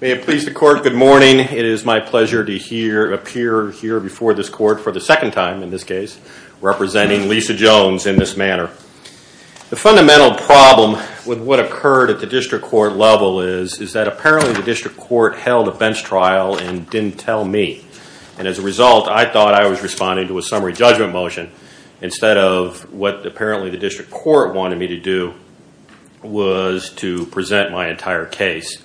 May it please the court, good morning. It is my pleasure to appear here before this court for the second time in this case, representing Lisa Jones in this manner. The fundamental problem with what occurred at the district court level is that apparently the district court held a bench trial and didn't tell me. And as a result, I thought I was responding to a summary judgment motion instead of what apparently the district court wanted me to do was to present my entire case.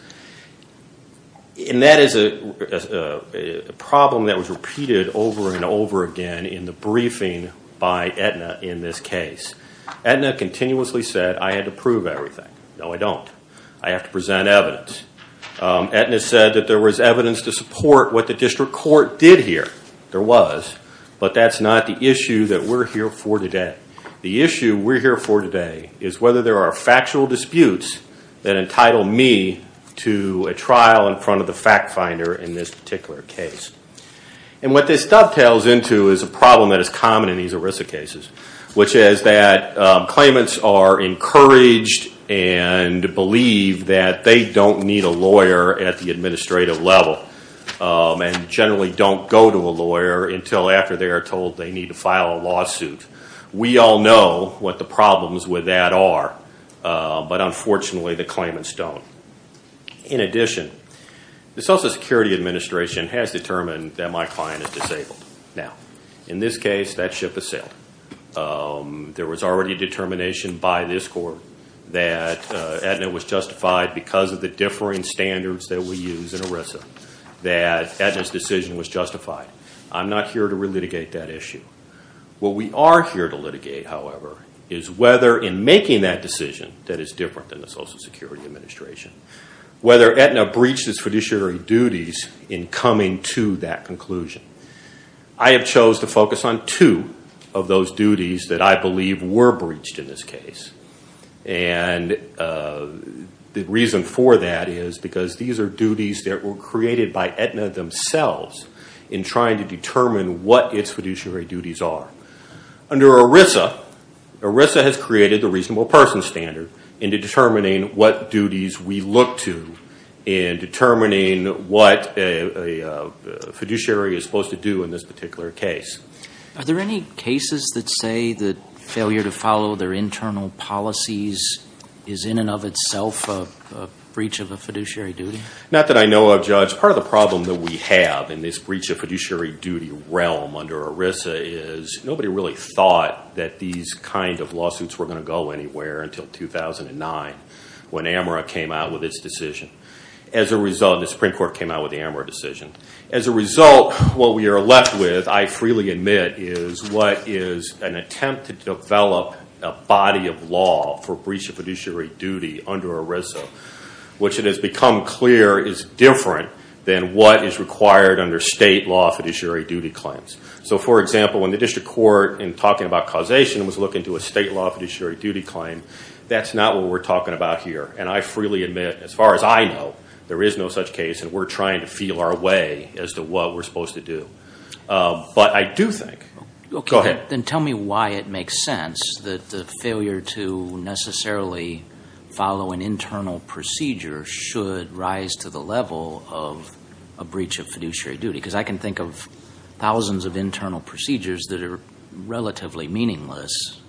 And that is a problem that was repeated over and over again in the briefing by Aetna in this case. Aetna continuously said I had to prove everything. No, I don't. I have to present evidence. Aetna said that there was evidence to support what the district court did here. There was, but that's not the issue that we're here for today. The issue we're here for today is whether there are factual disputes that entitle me to a trial in front of the fact finder in this particular case. And what this dovetails into is a problem that is common in these ERISA cases, which is that claimants are encouraged and believe that they don't need a lawyer at the administrative level and generally don't go to a lawyer until after they are told they need to file a lawsuit. We all know what the problems with that are, but unfortunately the claimants don't. In addition, the Social Security Administration has determined that my client is disabled. Now, in this case, that ship has sailed. There was already a determination by this court that Aetna was justified because of the differing standards that we use in ERISA, that Aetna's decision was justified. I'm not here to relitigate that issue. What we are here to litigate, however, is whether in making that decision that is different than the Social Security Administration, whether Aetna breached its fiduciary duties in coming to that conclusion. I have chose to focus on two of those duties that I believe were breached in this case. And the reason for that is because these are duties that were created by Aetna themselves in trying to determine what its fiduciary duties are. Under ERISA, ERISA has created the reasonable person standard into determining what duties we look to in determining what a fiduciary is supposed to do in this particular case. Are there any cases that say that failure to follow their internal policies is in and of itself a breach of a fiduciary duty? Not that I know of, Judge. Part of the problem that we have in this breach of fiduciary duty realm under ERISA is nobody really thought that these kind of lawsuits were going to go anywhere until 2009 when AMRA came out with its decision. As a result, the Supreme Court came out with the AMRA decision. As a result, what we are left with, I freely admit, is what is an attempt to develop a body of law for breach of fiduciary duty under ERISA, which it has become clear is different than what is required under state law fiduciary duty claims. So for example, when the district court, in talking about causation, was looking to a state law fiduciary duty claim, that's not what we're talking about here. And I freely admit, as far as I know, there is no such case, and we're trying to feel our way as to what we're supposed to do. But I do think, go ahead. Then tell me why it makes sense that the failure to necessarily follow an internal procedure should rise to the level of a breach of fiduciary duty. Because I can think of thousands of internal procedures that are relatively meaningless.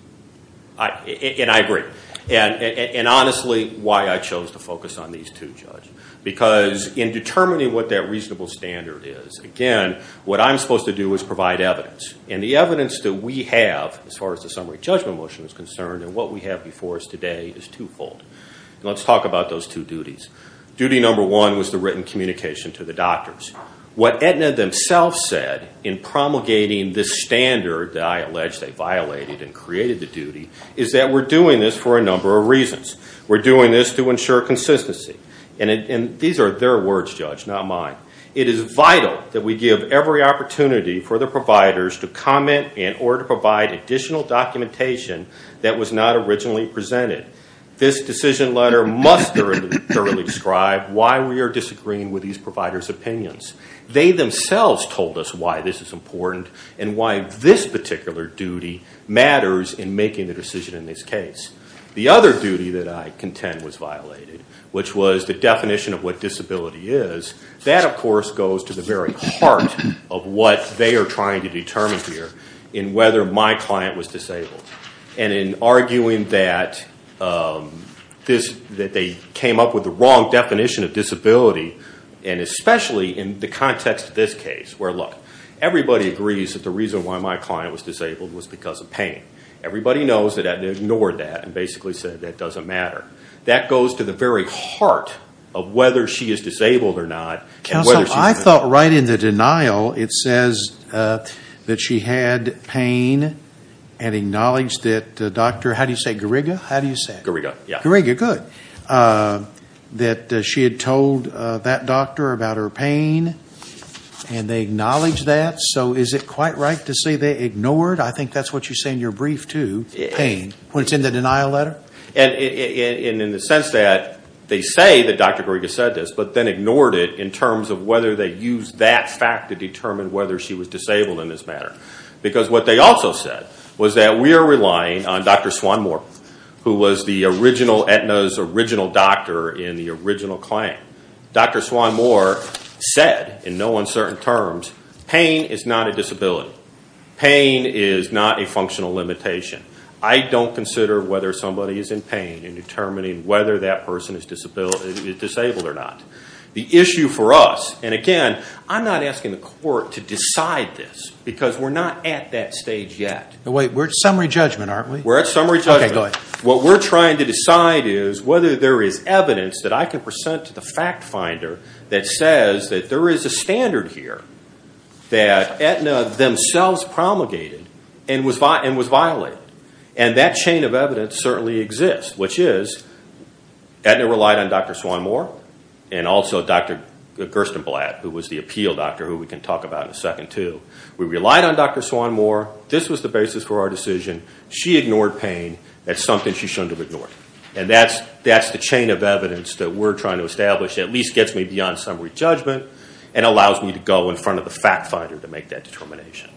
And I agree. And honestly, why I chose to focus on these two, Judge. Because in determining what that reasonable standard is, again, what I'm supposed to do is provide evidence. And the evidence that we have, as far as the summary judgment motion is concerned, and what we have before us today is twofold. Let's talk about those two duties. Duty number one was the written communication to the doctors. What Aetna themselves said in promulgating this standard that I allege they violated and created the duty, is that we're doing this for a number of reasons. We're doing this to ensure consistency. And these are their words, Judge, not mine. It is vital that we give every opportunity for the providers to comment in order to provide additional documentation that was not originally presented. This decision letter must thoroughly describe why we are disagreeing with these providers' opinions. They themselves told us why this is important and why this particular duty matters in making the decision in this case. The other duty that I contend was violated, which was the definition of what disability is. That, of course, goes to the very heart of what they are trying to determine here in whether my client was disabled. And in arguing that they came up with the wrong definition of disability, and especially in the context of this case where, look, everybody agrees that the reason why my client was disabled was because of pain. Everybody knows that Aetna ignored that and basically said that doesn't matter. That goes to the very heart of whether she is disabled or not. Counsel, I thought right in the denial it says that she had pain and acknowledged that Dr. How do you say, Gariga? How do you say it? Gariga, yeah. Gariga, good. That she had told that doctor about her pain and they acknowledged that. So is it quite right to say they ignored? I think that's what you say in your brief, too, pain, when it's in the denial letter. And in the sense that they say that Dr. Gariga said this, but then ignored it in terms of whether they used that fact to determine whether she was disabled in this matter. Because what they also said was that we are relying on Dr. Swanmore, who was the original Aetna's original doctor in the original client. Dr. Swanmore said, in no uncertain terms, pain is not a disability. Pain is not a functional limitation. I don't consider whether somebody is in pain in determining whether that person is disabled or not. The issue for us, and again, I'm not asking the court to decide this because we're not at that stage yet. Wait, we're at summary judgment, aren't we? We're at summary judgment. Okay, go ahead. What we're trying to decide is whether there is evidence that I can present to the fact finder that says that there is a standard here. That Aetna themselves promulgated and was violated. And that chain of evidence certainly exists, which is Aetna relied on Dr. Swanmore and also Dr. Gerstenblatt, who was the appeal doctor, who we can talk about in a second, too. We relied on Dr. Swanmore. This was the basis for our decision. She ignored pain. That's something she shouldn't have ignored. And that's the chain of evidence that we're trying to establish that at least gets me beyond summary judgment and allows me to go in front of the fact finder to make that determination.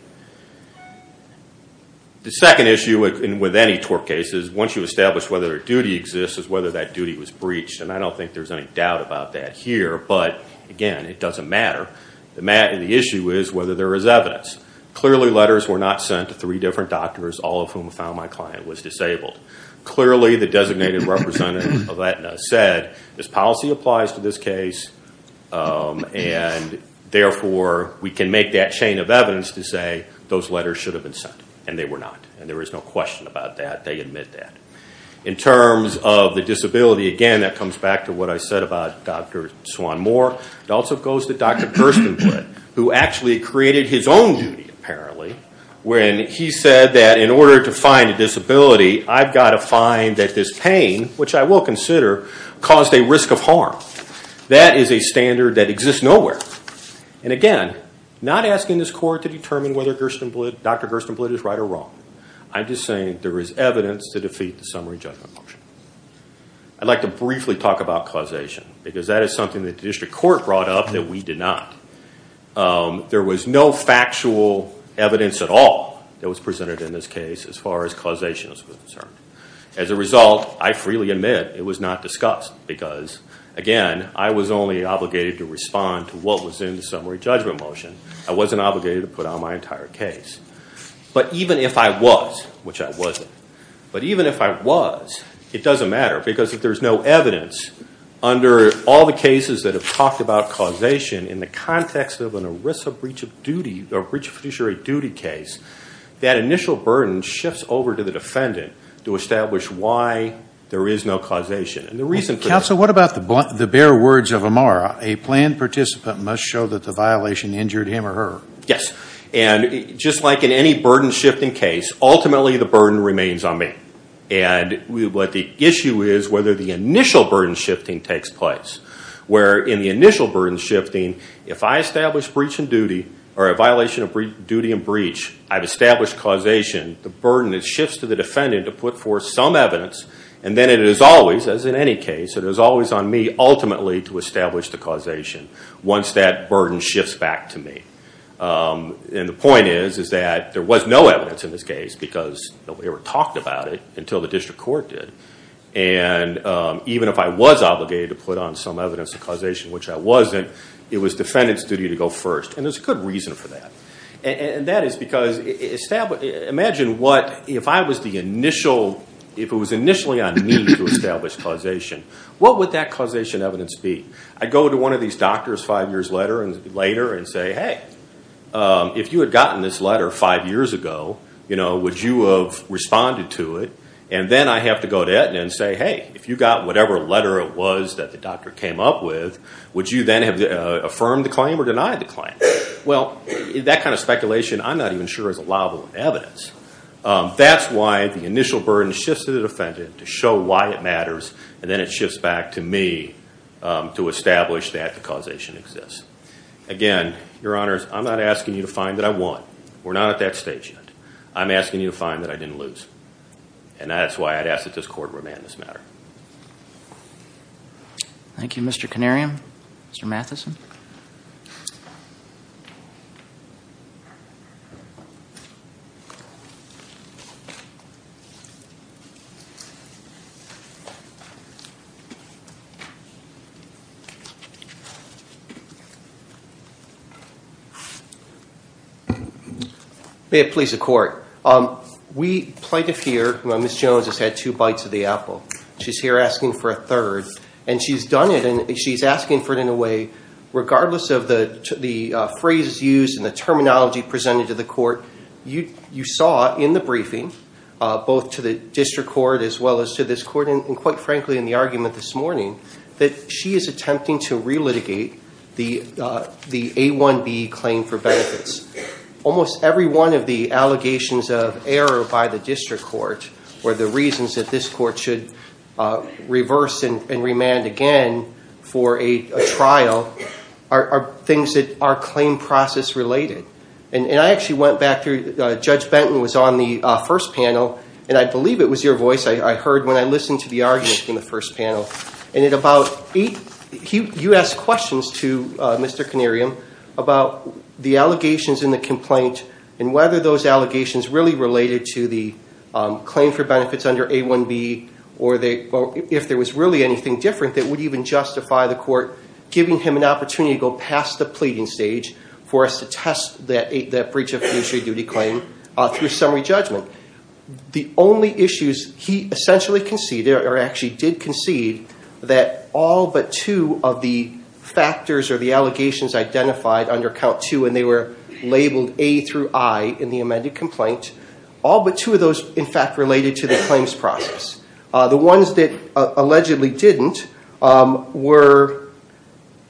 The second issue with any tort case is once you establish whether a duty exists is whether that duty was breached. And I don't think there's any doubt about that here. But again, it doesn't matter. The issue is whether there is evidence. Clearly letters were not sent to three different doctors, all of whom found my client was disabled. Clearly the designated representative of Aetna said, this policy applies to this case, and therefore we can make that chain of evidence to say those letters should have been sent. And they were not. And there is no question about that. They admit that. In terms of the disability, again, that comes back to what I said about Dr. Swanmore. It also goes to Dr. Gerstenblatt, who actually created his own duty, apparently, when he said that in order to find a disability, I've got to find that this pain, which I will consider, caused a risk of harm. That is a standard that exists nowhere. And again, not asking this court to determine whether Dr. Gerstenblatt is right or wrong. I'm just saying there is evidence to defeat the summary judgment motion. I'd like to briefly talk about causation, because that is something that the district court brought up that we did not. There was no factual evidence at all that was presented in this case as far as causation was concerned. As a result, I freely admit it was not discussed, because again, I was only obligated to respond to what was in the summary judgment motion. I wasn't obligated to put on my entire case. But even if I was, which I wasn't, but even if I was, it doesn't matter. Because if there's no evidence, under all the cases that have talked about causation, in the context of an ERISA breach of duty, or breach of fiduciary duty case, that initial burden shifts over to the defendant to establish why there is no causation. And the reason for that- Counsel, what about the bare words of Amara? A planned participant must show that the violation injured him or her. Yes. And just like in any burden shifting case, ultimately the burden remains on me. And what the issue is, whether the initial burden shifting takes place. Where in the initial burden shifting, if I establish breach in duty, or a violation of duty and breach, I've established causation, the burden shifts to the defendant to put forth some evidence. And then it is always, as in any case, it is always on me ultimately to establish the causation. Once that burden shifts back to me. And the point is, is that there was no evidence in this case, because nobody ever talked about it until the district court did. And even if I was obligated to put on some evidence of causation, which I wasn't, it was defendant's duty to go first. And there's a good reason for that. And that is because, imagine what, if I was the initial, if it was initially on me to establish causation, what would that causation evidence be? I'd go to one of these doctors five years later and say, hey, if you had gotten this letter five years ago, would you have responded to it? And then I have to go to Edna and say, hey, if you got whatever letter it was that the doctor came up with, would you then have affirmed the claim or denied the claim? Well, that kind of speculation I'm not even sure is allowable evidence. That's why the initial burden shifts to the defendant to show why it matters. And then it shifts back to me to establish that the causation exists. Again, your honors, I'm not asking you to find that I won. We're not at that stage yet. I'm asking you to find that I didn't lose. And that's why I'd ask that this court remand this matter. Thank you, Mr. Canarium. Mr. Matheson. May it please the court. We plaintiff here, Ms. Jones has had two bites of the apple. She's here asking for a third. And she's done it, and she's asking for it in a way, regardless of the phrases used and the terminology presented to the court, you saw in the briefing, both to the district court as well as to this court, and quite frankly in the argument this morning, that she is attempting to relitigate the A1B claim for benefits. Almost every one of the allegations of error by the district court, or the reasons that this court should reverse and remand again for a trial, are things that are claim process related. And I actually went back through, Judge Benton was on the first panel, and I believe it was your voice I heard when I listened to the argument in the first panel. You asked questions to Mr. Canarium about the allegations in the complaint, and whether those allegations really related to the claim for benefits under A1B, or if there was really anything different that would even justify the court giving him an opportunity to go past the pleading stage for us to test that breach of fiduciary duty claim through summary judgment. The only issues he essentially conceded, or actually did concede, that all but two of the factors or the allegations identified under count two, and they were labeled A through I in the amended complaint, all but two of those in fact related to the claims process. The ones that allegedly didn't were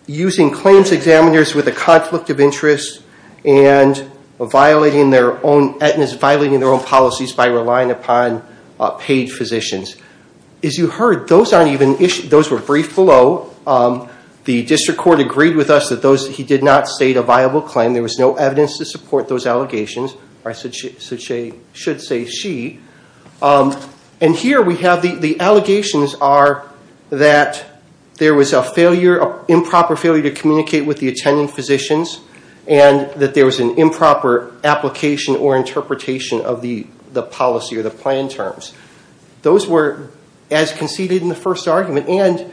using claims examiners with a conflict of interest, and violating their own policies by relying upon paid physicians. As you heard, those were briefed below. The district court agreed with us that he did not state a viable claim. There was no evidence to support those allegations, or I should say she. And here we have the allegations are that there was an improper failure to communicate with the attending physicians, and that there was an improper application or interpretation of the policy or the plan terms. Those were as conceded in the first argument, and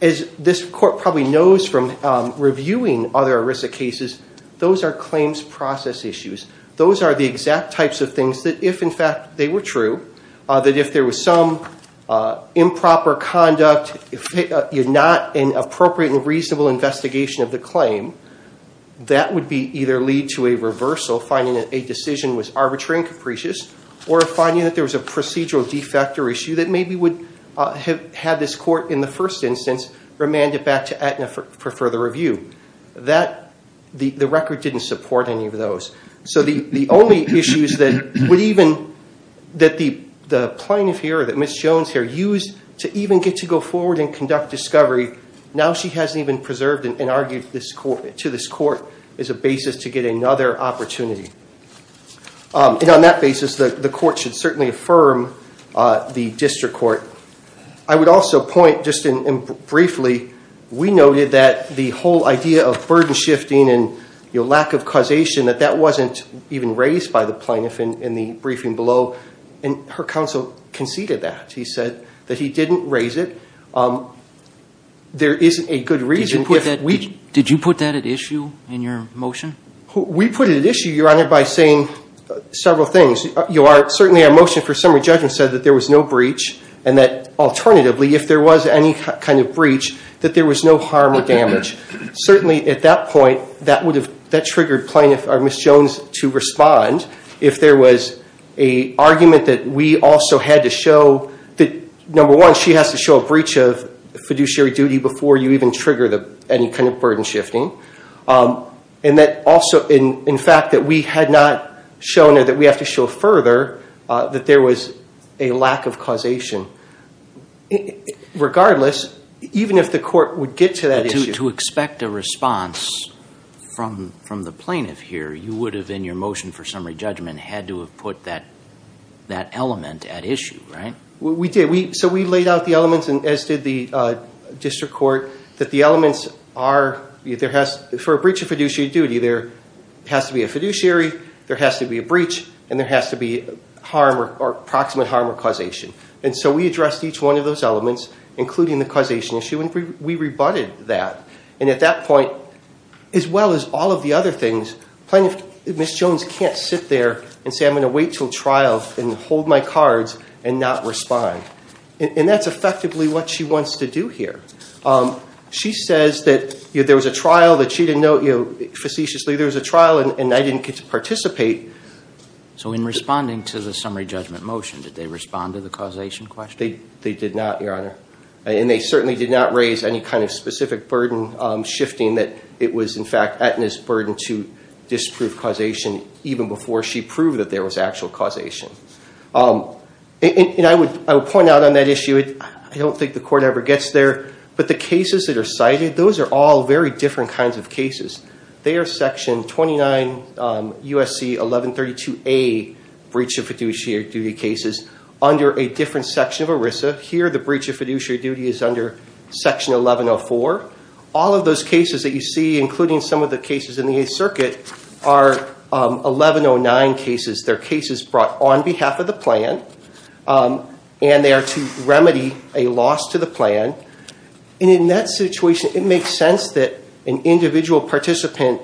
as this court probably knows from reviewing other ERISA cases, those are claims process issues. Those are the exact types of things that if in fact they were true, that if there was some improper conduct, not an appropriate and reasonable investigation of the claim, that would either lead to a reversal, finding that a decision was arbitrary and capricious, or finding that there was a procedural defect or issue that maybe would have had this court, in the first instance, remanded back to Aetna for further review. The record didn't support any of those. So the only issues that the plaintiff here or that Ms. Jones here used to even get to go forward and conduct discovery, now she hasn't even preserved and argued to this court as a basis to get another opportunity. And on that basis, the court should certainly affirm the district court. I would also point just briefly, we noted that the whole idea of burden shifting and lack of causation, that that wasn't even raised by the plaintiff in the briefing below, and her counsel conceded that. He said that he didn't raise it. There isn't a good reason. Did you put that at issue in your motion? We put it at issue, Your Honor, by saying several things. Certainly our motion for summary judgment said that there was no breach and that alternatively, if there was any kind of breach, that there was no harm or damage. Certainly at that point, that triggered Ms. Jones to respond. If there was an argument that we also had to show that, number one, she has to show a breach of fiduciary duty before you even trigger any kind of burden shifting. And that also, in fact, that we had not shown or that we have to show further that there was a lack of causation. Regardless, even if the court would get to that issue. To expect a response from the plaintiff here, you would have, in your motion for summary judgment, had to have put that element at issue, right? We did. So we laid out the elements, as did the district court, that the elements are, for a breach of fiduciary duty, there has to be a fiduciary, there has to be a breach, and there has to be approximate harm or causation. And so we addressed each one of those elements, including the causation issue, and we rebutted that. And at that point, as well as all of the other things, Ms. Jones can't sit there and say, I'm going to wait until trial and hold my cards and not respond. And that's effectively what she wants to do here. She says that there was a trial that she didn't know, facetiously, there was a trial and I didn't get to participate. So in responding to the summary judgment motion, did they respond to the causation question? They did not, Your Honor. And they certainly did not raise any kind of specific burden shifting that it was, in fact, Aetna's burden to disprove causation even before she proved that there was actual causation. And I would point out on that issue, I don't think the court ever gets there, but the cases that are cited, those are all very different kinds of cases. They are Section 29 USC 1132A breach of fiduciary duty cases under a different section of ERISA. Here, the breach of fiduciary duty is under Section 1104. All of those cases that you see, including some of the cases in the Eighth Circuit, are 1109 cases. They're cases brought on behalf of the plan, and they are to remedy a loss to the plan. And in that situation, it makes sense that an individual participant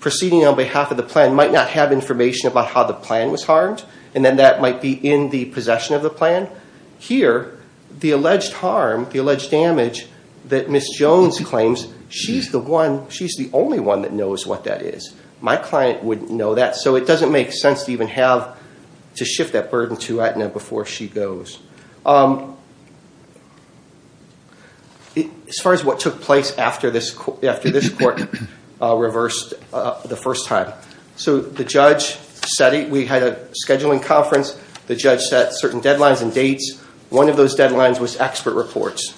proceeding on behalf of the plan might not have information about how the plan was harmed, and then that might be in the possession of the plan. Here, the alleged harm, the alleged damage that Ms. Jones claims, she's the only one that knows what that is. My client wouldn't know that, so it doesn't make sense to even have to shift that burden to Aetna before she goes. As far as what took place after this court reversed the first time, so the judge said it. We had a scheduling conference. The judge set certain deadlines and dates. One of those deadlines was expert reports.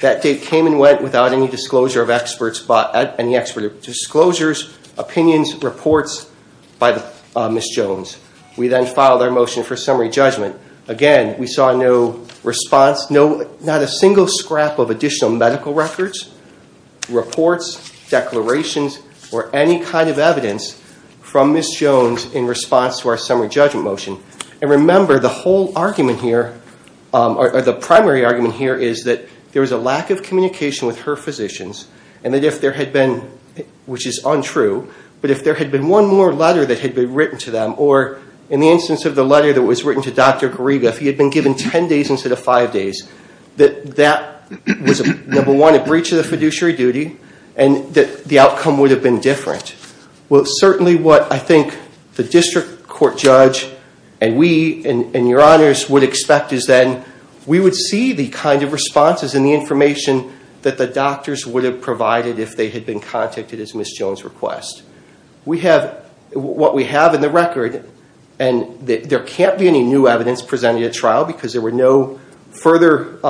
That date came and went without any disclosure of experts, any expert disclosures, opinions, reports by Ms. Jones. We then filed our motion for summary judgment. Again, we saw no response, not a single scrap of additional medical records, reports, declarations, or any kind of evidence from Ms. Jones in response to our summary judgment motion. And remember, the whole argument here, or the primary argument here, is that there was a lack of communication with her physicians, and that if there had been, which is untrue, but if there had been one more letter that had been written to them, or in the instance of the letter that was written to Dr. Gariga, if he had been given 10 days instead of 5 days, that that was, number one, a breach of the fiduciary duty, and that the outcome would have been different. Well, certainly what I think the district court judge and we, and your honors, would expect is that we would see the kind of responses and the information that the doctors would have provided if they had been contacted as Ms. Jones' request. We have, what we have in the record, and there can't be any new evidence presented at trial, because there were no further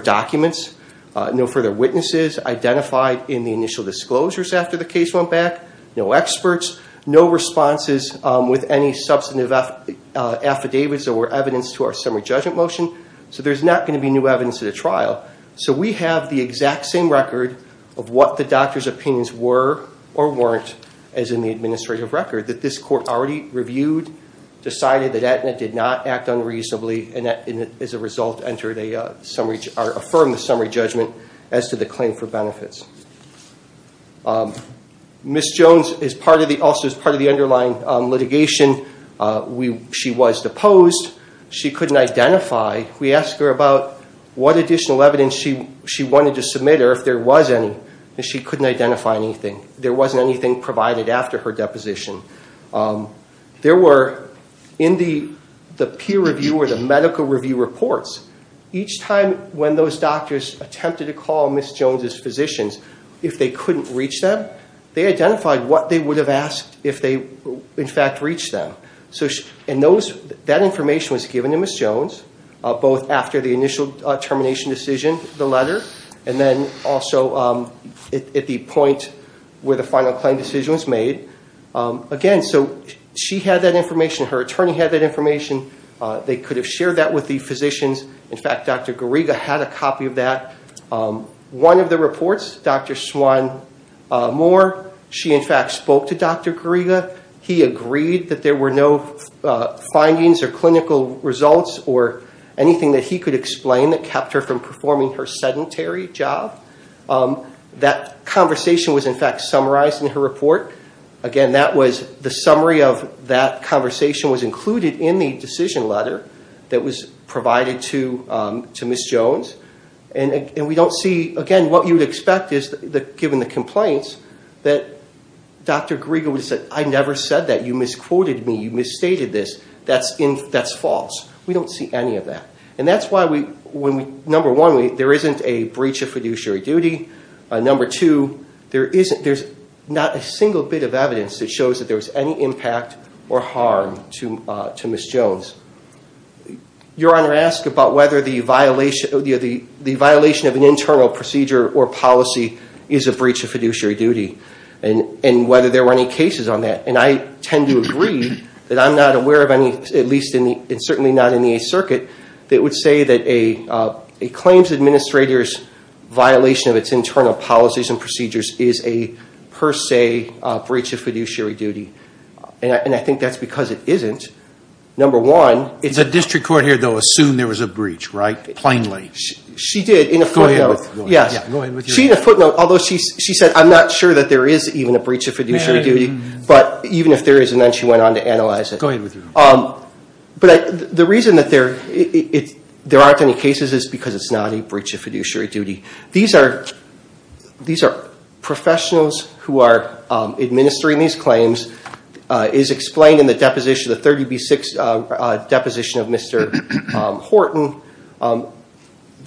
documents, no further witnesses identified in the initial disclosures after the case went back, no experts, no responses with any substantive affidavits or evidence to our summary judgment motion, so there's not going to be new evidence at a trial. So we have the exact same record of what the doctors' opinions were or weren't, as in the administrative record, that this court already reviewed, decided that that did not act unreasonably, and as a result, entered a summary, or affirmed a summary judgment as to the claim for benefits. Ms. Jones, as part of the, also as part of the underlying litigation, she was deposed. She couldn't identify, we asked her about what additional evidence she wanted to submit or if there was any, and she couldn't identify anything. There wasn't anything provided after her deposition. There were, in the peer review or the medical review reports, each time when those doctors attempted to call Ms. Jones' physicians, if they couldn't reach them, they identified what they would have asked if they, in fact, reached them. And that information was given to Ms. Jones, both after the initial termination decision, the letter, and then also at the point where the final claim decision was made. Again, so she had that information. Her attorney had that information. They could have shared that with the physicians. In fact, Dr. Gariga had a copy of that. One of the reports, Dr. Swan Moore, she, in fact, spoke to Dr. Gariga. He agreed that there were no findings or clinical results or anything that he could explain that kept her from performing her sedentary job. That conversation was, in fact, summarized in her report. Again, that was, the summary of that conversation was included in the decision letter that was provided to Ms. Jones. And we don't see, again, what you would expect is, given the complaints, that Dr. Gariga would have said, I never said that. You misquoted me. You misstated this. That's false. We don't see any of that. And that's why, number one, there isn't a breach of fiduciary duty. Number two, there's not a single bit of evidence that shows that there was any impact or harm to Ms. Jones. Your Honor, ask about whether the violation of an internal procedure or policy is a breach of fiduciary duty and whether there were any cases on that. And I tend to agree that I'm not aware of any, at least certainly not in the Eighth Circuit, that would say that a claims administrator's violation of its internal policies and procedures is a, per se, breach of fiduciary duty. And I think that's because it isn't. Number one, it's- The district court here, though, assumed there was a breach, right? Plainly. She did, in a footnote. Go ahead with your- Go ahead with your- She, in a footnote, although she said, I'm not sure that there is even a breach of fiduciary duty. But even if there is, and then she went on to analyze it. Go ahead with your- But the reason that there aren't any cases is because it's not a breach of fiduciary duty. These are professionals who are administering these claims. It is explained in the deposition, the 30B6 deposition of Mr. Horton.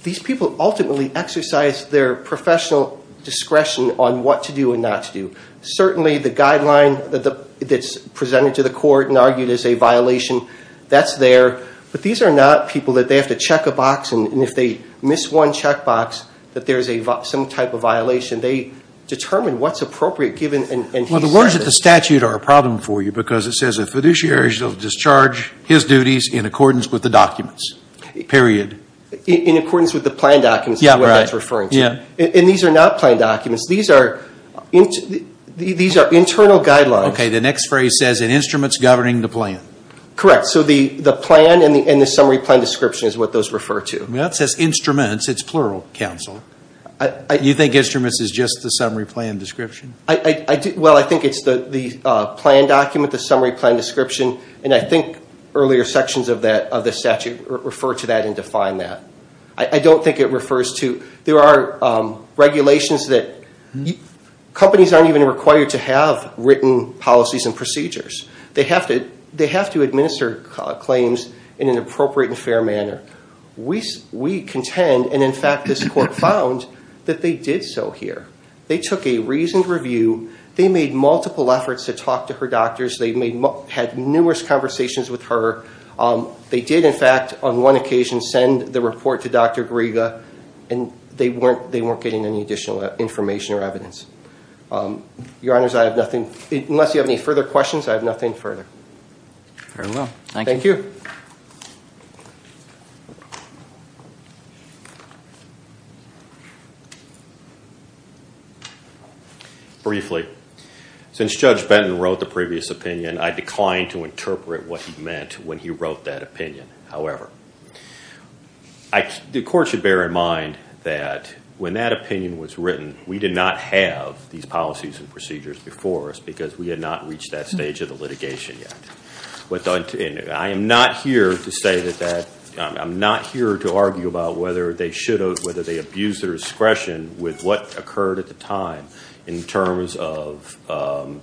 These people ultimately exercise their professional discretion on what to do and not to do. Certainly, the guideline that's presented to the court and argued as a violation, that's there. But these are not people that they have to check a box, and if they miss one check box, that there is some type of violation. They determine what's appropriate given- Well, the words of the statute are a problem for you because it says a fiduciary shall discharge his duties in accordance with the documents. Period. In accordance with the plan documents is what that's referring to. Yeah, right. Yeah. And these are not plan documents. These are internal guidelines. Okay. The next phrase says, an instrument's governing the plan. Correct. So the plan and the summary plan description is what those refer to. That says instruments. It's plural, counsel. You think instruments is just the summary plan description? Well, I think it's the plan document, the summary plan description, and I think earlier sections of the statute refer to that and define that. I don't think it refers to- There are regulations that- Companies aren't even required to have written policies and procedures. They have to administer claims in an appropriate and fair manner. We contend, and in fact, this court found that they did so here. They took a reasoned review. They made multiple efforts to talk to her doctors. They had numerous conversations with her. They did, in fact, on one occasion send the report to Dr. Griega, and they weren't getting any additional information or evidence. Your Honors, I have nothing. Unless you have any further questions, I have nothing further. Very well. Thank you. Briefly, since Judge Benton wrote the previous opinion, I declined to interpret what he meant when he wrote that opinion. However, the court should bear in mind that when that opinion was written, we did not have these policies and procedures before us because we had not reached that stage of the litigation yet. I am not here to argue about whether they abused their discretion with what occurred at the time in terms of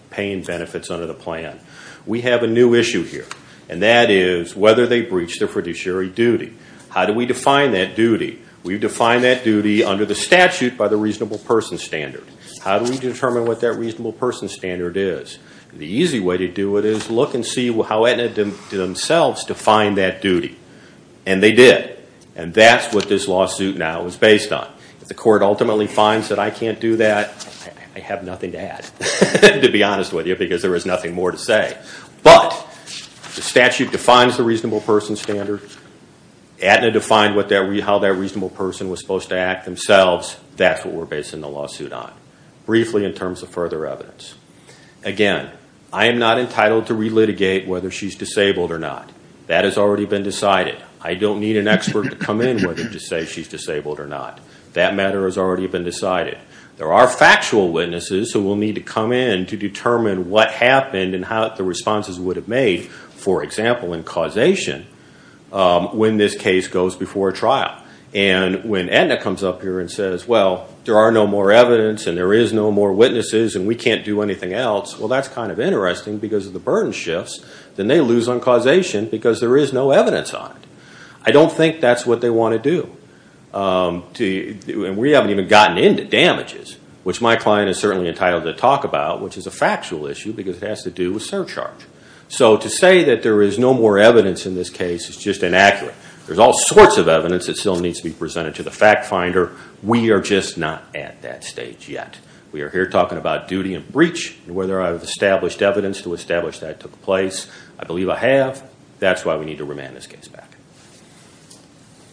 paying benefits under the plan. We have a new issue here. And that is whether they breached their fiduciary duty. How do we define that duty? We define that duty under the statute by the reasonable person standard. How do we determine what that reasonable person standard is? The easy way to do it is look and see how they themselves defined that duty. And they did. And that's what this lawsuit now is based on. If the court ultimately finds that I can't do that, I have nothing to add, to be honest with you, because there is nothing more to say. But the statute defines the reasonable person standard. Aetna defined how that reasonable person was supposed to act themselves. That's what we're basing the lawsuit on. Briefly in terms of further evidence. Again, I am not entitled to relitigate whether she's disabled or not. That has already been decided. I don't need an expert to come in whether to say she's disabled or not. That matter has already been decided. There are factual witnesses who will need to come in to determine what happened and how the responses would have made, for example, in causation when this case goes before trial. And when Aetna comes up here and says, well, there are no more evidence and there is no more witnesses and we can't do anything else, well, that's kind of interesting because of the burden shifts. Then they lose on causation because there is no evidence on it. I don't think that's what they want to do. And we haven't even gotten into damages, which my client is certainly entitled to talk about, which is a factual issue because it has to do with surcharge. So to say that there is no more evidence in this case is just inaccurate. There's all sorts of evidence that still needs to be presented to the fact finder. We are just not at that stage yet. We are here talking about duty and breach and whether I've established evidence to establish that took place. I believe I have. That's why we need to remand this case back.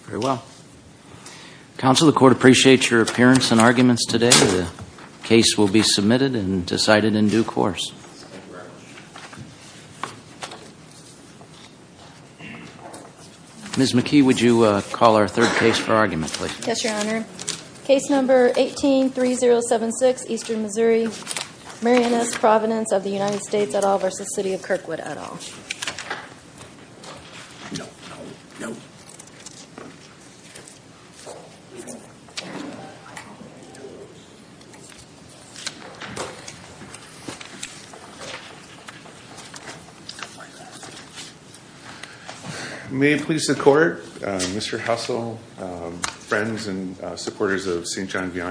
Very well. Counsel, the court appreciates your appearance and arguments today. The case will be submitted and decided in due course. Ms. McKee, would you call our third case for argument, please? Yes, Your Honor. Case number 18-3076, Eastern Missouri. Marian S. Providence of the United States et al. versus City of Kirkwood et al. No, no, no. May it please the court, Mr. Hussle, friends and supporters of St. John Vianney.